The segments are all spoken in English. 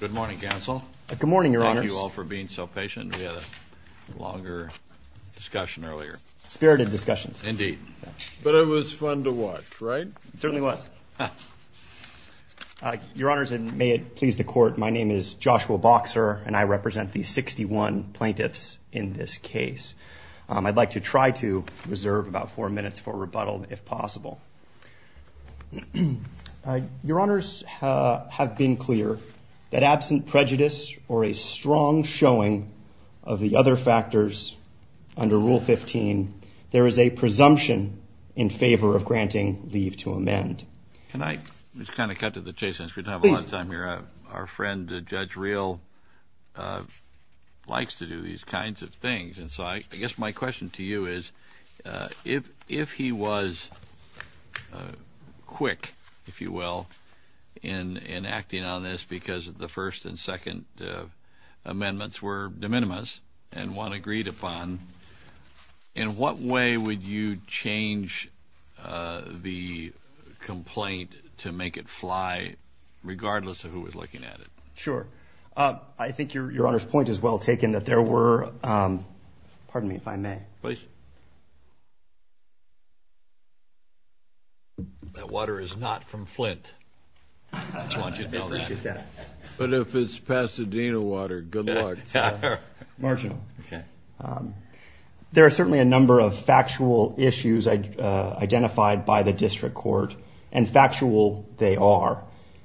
Good morning, Counsel. Good morning, Your Honors. Thank you all for being so patient. We had a longer discussion earlier. Spirited discussions. Indeed. But it was fun to watch, right? It certainly was. Your Honors, and may it please the Court, my name is Joshua Boxer and I represent the 61 plaintiffs in this case. I'd like to try to reserve about four minutes for rebuttal, if possible. Your Honors have been clear that absent prejudice or a strong showing of the other factors under Rule 15, there is a presumption in favor of granting leave to amend. Can I just kind of cut to the chase, since we don't have a lot of time here. Our friend Judge Real likes to do these kinds of things, and so I guess my question to you is, if he was quick, if you will, in acting on this because the first and second amendments were de minimis and one agreed upon, in what way would you change the complaint to make it fly, regardless of who was looking at it? Sure. I think Your Honor's point is well taken, that there were, pardon me if I may. Please. That water is not from Flint. But if it's Pasadena water, good luck. Marginal. There are certainly a number of factual issues identified by the District Court, and factual they are.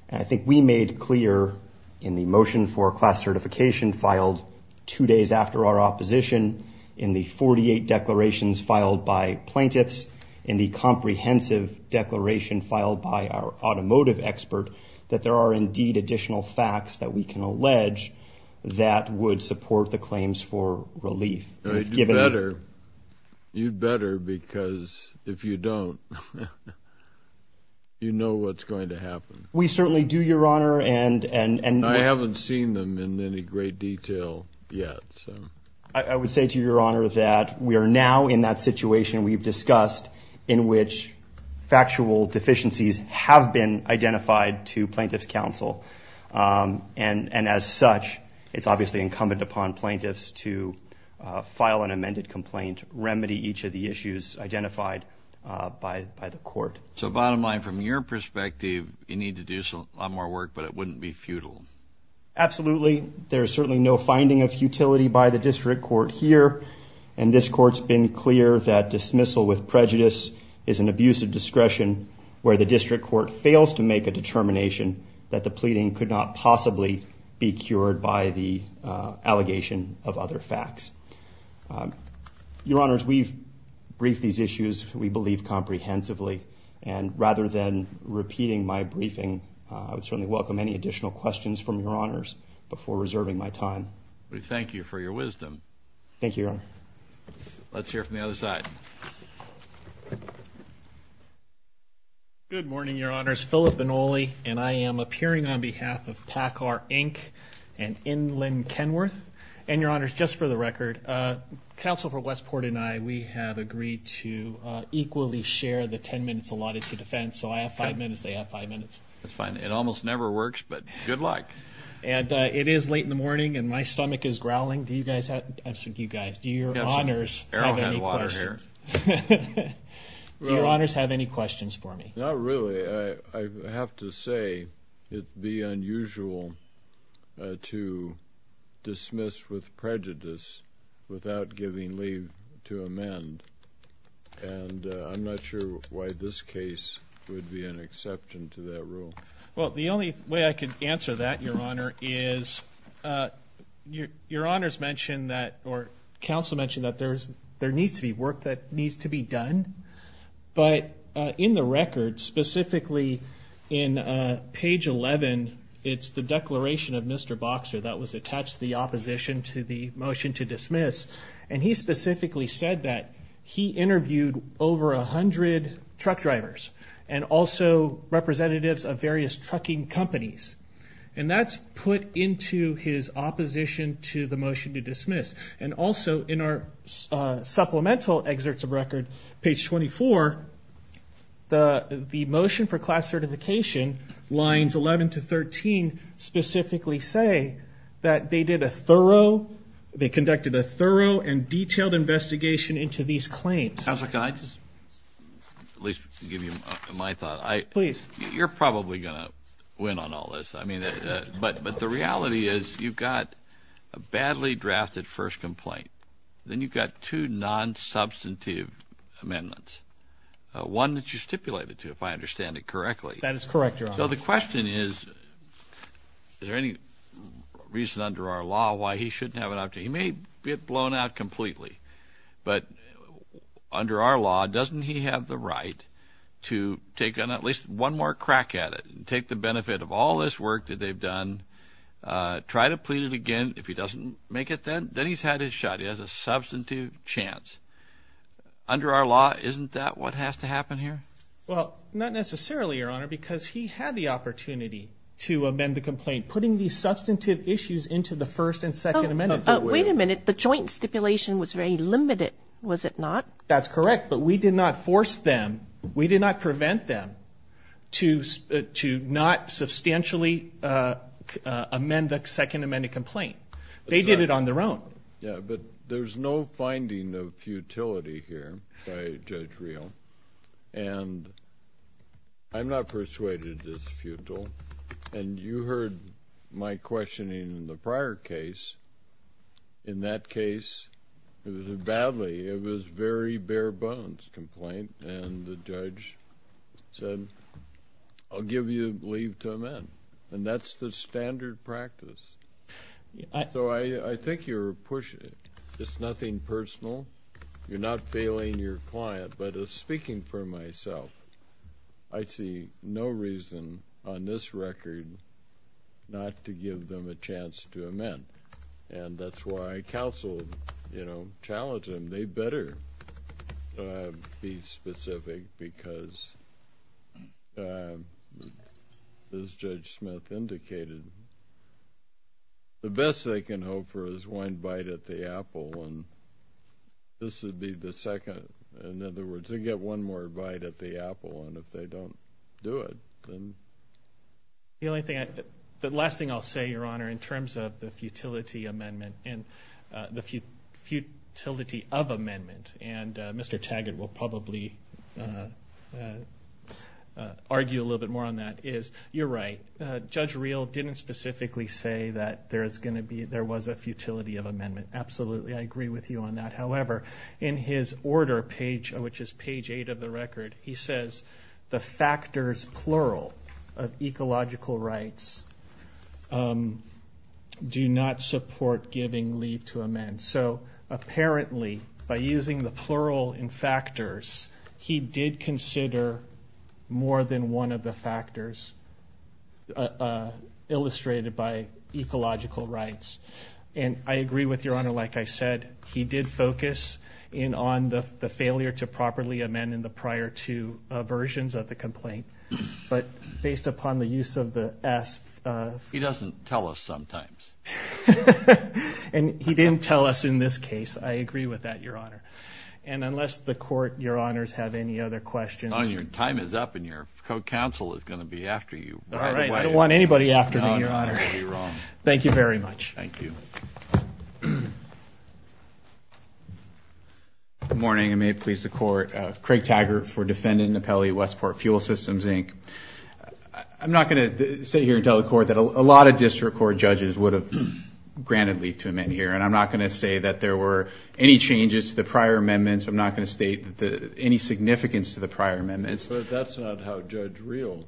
And I think we made clear in the motion for class certification filed two days after our opposition, in the 48 declarations filed by plaintiffs, in the comprehensive declaration filed by our automotive expert, that there are indeed additional facts that we can allege that would You know what's going to happen. We certainly do, Your Honor. And I haven't seen them in any great detail yet. I would say to Your Honor that we are now in that situation we've discussed in which factual deficiencies have been identified to Plaintiff's Counsel. And as such, it's obviously incumbent upon plaintiffs to file an amended complaint, remedy each of the issues identified by the court. So bottom line, from your perspective, you need to do a lot more work, but it wouldn't be futile. Absolutely. There's certainly no finding of futility by the District Court here. And this court's been clear that dismissal with prejudice is an abuse of discretion, where the District Court fails to make a determination that the pleading could not possibly be cured by the allegation of other facts. Your Honors, we've briefed these issues, we believe, comprehensively. And rather than repeating my briefing, I would certainly welcome any additional questions from Your Honors before reserving my time. We thank you for your wisdom. Thank you, Your Honor. Let's hear from the other side. Good morning, Your Honors. Philip Benoli, and I am appearing on behalf of Packar Inc. and Inland Kenworth. And Your Honors, just for the record, Counsel for the Court, we equally share the 10 minutes allotted to defense, so I have five minutes, they have five minutes. That's fine. It almost never works, but good luck. And it is late in the morning, and my stomach is growling. Do you guys have, I'm asking you guys, do Your Honors have any questions? Do Your Honors have any questions for me? Not really. I have to say, it'd be unusual to dismiss with I'm not sure why this case would be an exception to that rule. Well, the only way I could answer that, Your Honor, is Your Honors mentioned that, or Counsel mentioned that there needs to be work that needs to be done. But in the record, specifically in page 11, it's the declaration of Mr. Boxer that was attached to the opposition to the motion to dismiss. And he specifically said that he interviewed over a hundred truck drivers, and also representatives of various trucking companies. And that's put into his opposition to the motion to dismiss. And also in our supplemental excerpts of record, page 24, the motion for class certification, lines 11 to 13, specifically say that they did a thorough, they conducted a thorough and detailed investigation into these claims. Counselor, can I just at least give you my thought? Please. You're probably gonna win on all this. I mean, but the reality is you've got a badly drafted first complaint. Then you've got two non-substantive amendments. One that you stipulated to, if I understand it correctly. That is correct, Your Honor. So the question is, is there any reason under our law why he shouldn't have an option? He may get blown out completely. But under our law, doesn't he have the right to take on at least one more crack at it, and take the benefit of all this work that they've done, try to plead it again. If he doesn't make it then, then he's had his shot. He has a substantive chance. Under our law, isn't that what has to happen here? Well, not necessarily, Your Honor, because he had the opportunity to amend the complaint. Putting these substantive issues into the first and second amendment. Wait a minute, the joint stipulation was very limited, was it not? That's correct, but we did not force them, we did not prevent them, to not substantially amend the second amended complaint. They did it on their own. Yeah, but there's no finding of futility here by Judge Real, and I'm not persuaded it's I've heard my questioning in the prior case. In that case, it was a badly, it was very bare-bones complaint, and the judge said, I'll give you leave to amend, and that's the standard practice. So I think you're pushing it. It's nothing personal. You're not failing your client, but as speaking for myself, I see no reason on this record not to give them a chance to amend, and that's why I counseled, you know, challenged them. They better be specific because, as Judge Smith indicated, the best they can hope for is one bite at the apple, and this would be the second. In other words, they get one more bite at the apple, and if they don't do it, then... The only thing I, the last thing I'll say, Your Honor, in terms of the futility amendment, and the futility of amendment, and Mr. Taggart will probably argue a little bit more on that, is you're right. Judge Real didn't specifically say that there is going to be, there was a futility of amendment. Absolutely, I agree with you on that. However, in his order page, which is page eight of the record, he says the factors, plural, of ecological rights do not support giving leave to amend. So apparently, by using the plural in factors, he did consider more than one of the factors illustrated by ecological rights, and I agree with Your Honor. Like I said, he did focus in on the failure to properly amend in the prior two versions of the complaint, but based upon the use of the S... He doesn't tell us sometimes. And he didn't tell us in this case. I agree with that, Your Honor, and unless the court, Your Honors, have any other questions... Your time is up, and your co-counsel is going to be after you. All right, I don't want anybody after me, Your Honor. Thank you very much. Thank you. Good morning, and may it please the court. Craig Taggart for defendant in the Pelley Westport Fuel Systems, Inc. I'm not going to sit here and tell the court that a lot of district court judges would have granted leave to amend here, and I'm not going to say that there were any changes to the prior amendments. I'm not going to state any significance to the prior amendments. But that's not how Judge Riehl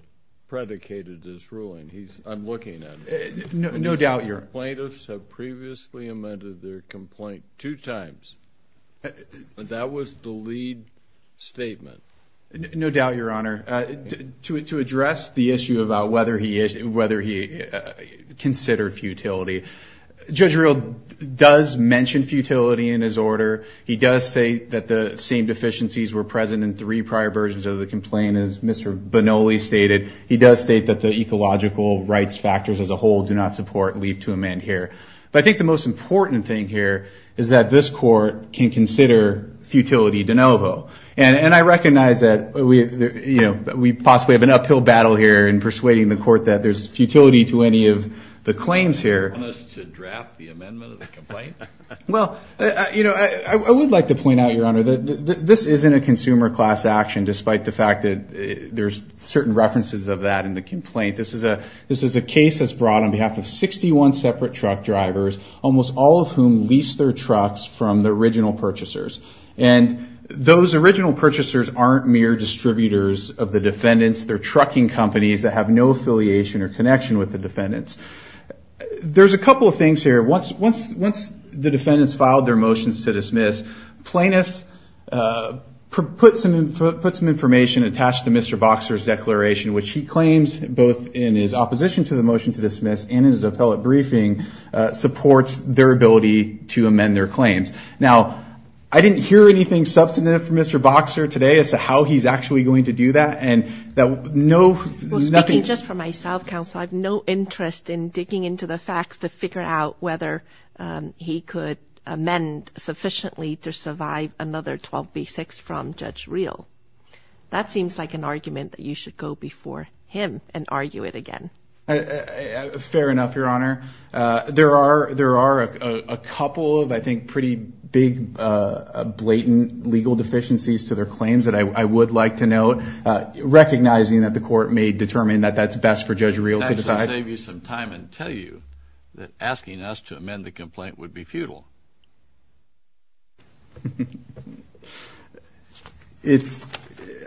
previously amended their complaint two times. That was the lead statement. No doubt, Your Honor. To address the issue about whether he considered futility, Judge Riehl does mention futility in his order. He does say that the same deficiencies were present in three prior versions of the complaint. As Mr. Bonoli stated, he does state that the ecological rights factors as a whole do not support leave to amend here. But I think the most important thing here is that this court can consider futility de novo. And I recognize that we possibly have an uphill battle here in persuading the court that there's futility to any of the claims here. Well, you know, I would like to point out, Your Honor, that this isn't a consumer class action, despite the fact that there's certain references of that in the complaint. This is a case that's brought on behalf of 61 separate truck drivers, almost all of whom leased their trucks from the original purchasers. And those original purchasers aren't mere distributors of the defendants. They're trucking companies that have no affiliation or connection with the defendants. There's a couple of things here. Once the defendants filed their motions to dismiss, plaintiffs put some information attached to Mr. Boxer's motion to dismiss in his appellate briefing supports their ability to amend their claims. Now, I didn't hear anything substantive from Mr. Boxer today as to how he's actually going to do that. And that no, nothing just for myself, counsel, I have no interest in digging into the facts to figure out whether he could amend sufficiently to survive another 12B6 from Judge Reel. That seems like an argument that you should go before him and argue it again. Fair enough, Your Honor. There are a couple of, I think, pretty big, blatant legal deficiencies to their claims that I would like to note. Recognizing that the court may determine that that's best for Judge Reel to decide. That would save you some time and tell you that asking us to amend the complaint would be futile. It's,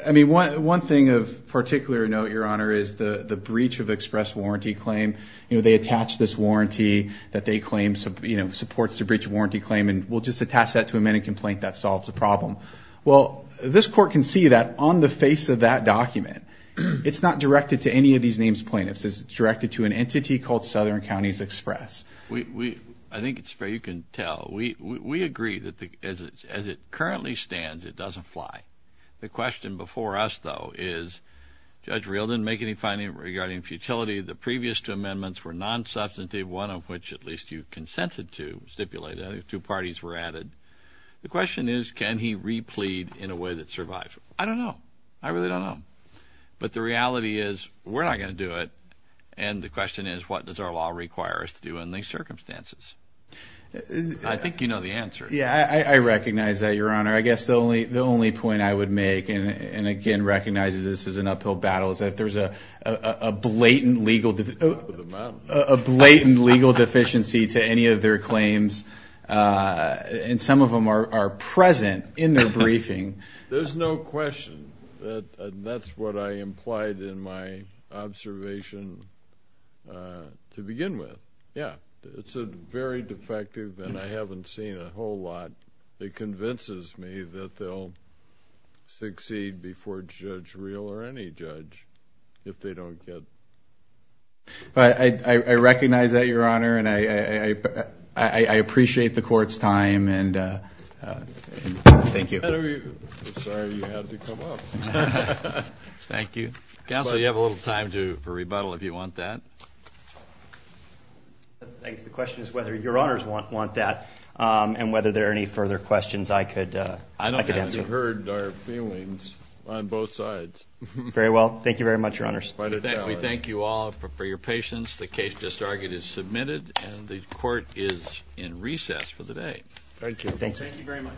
I mean, one thing of particular note, Your Honor, the Southern County's Express Warranty Claim, you know, they attach this warranty that they claim, you know, supports the breach of warranty claim and we'll just attach that to amend a complaint that solves the problem. Well, this court can see that on the face of that document, it's not directed to any of these names plaintiffs. It's directed to an entity called Southern County's Express. We, I think it's fair you can tell, we agree that as it currently stands, it doesn't fly. The question before us, though, is Judge Reel didn't make any finding regarding futility. The previous two amendments were non-substantive, one of which at least you consented to stipulate. I think two parties were added. The question is, can he replead in a way that survives? I don't know. I really don't know. But the reality is, we're not going to do it. And the question is, what does our law require us to do in these circumstances? I think you know the answer. Yeah, I recognize that, Your Honor. I guess the only, the only point I would make, and again, recognize that this is an uphill battle, is that there's a blatant legal, a blatant legal deficiency to any of their claims, and some of them are present in their briefing. There's no question that that's what I implied in my observation to begin with. Yeah, it's a very defective, and I haven't seen a whole lot that convinces me that they'll succeed before Judge Reel or any judge, if they don't get... But I recognize that, Your Honor, and I appreciate the Court's time, and thank you. Thank you. Counsel, you have a little time to rebuttal if you want that. I guess the question is whether Your Honors want that, and whether there are any further questions I could answer. I don't know how you heard our feelings on both sides. Very well. Thank you very much, Your Honors. We thank you all for your patience. The case just argued is submitted, and the Court is in recess for the day. Thank you. Thank you very much.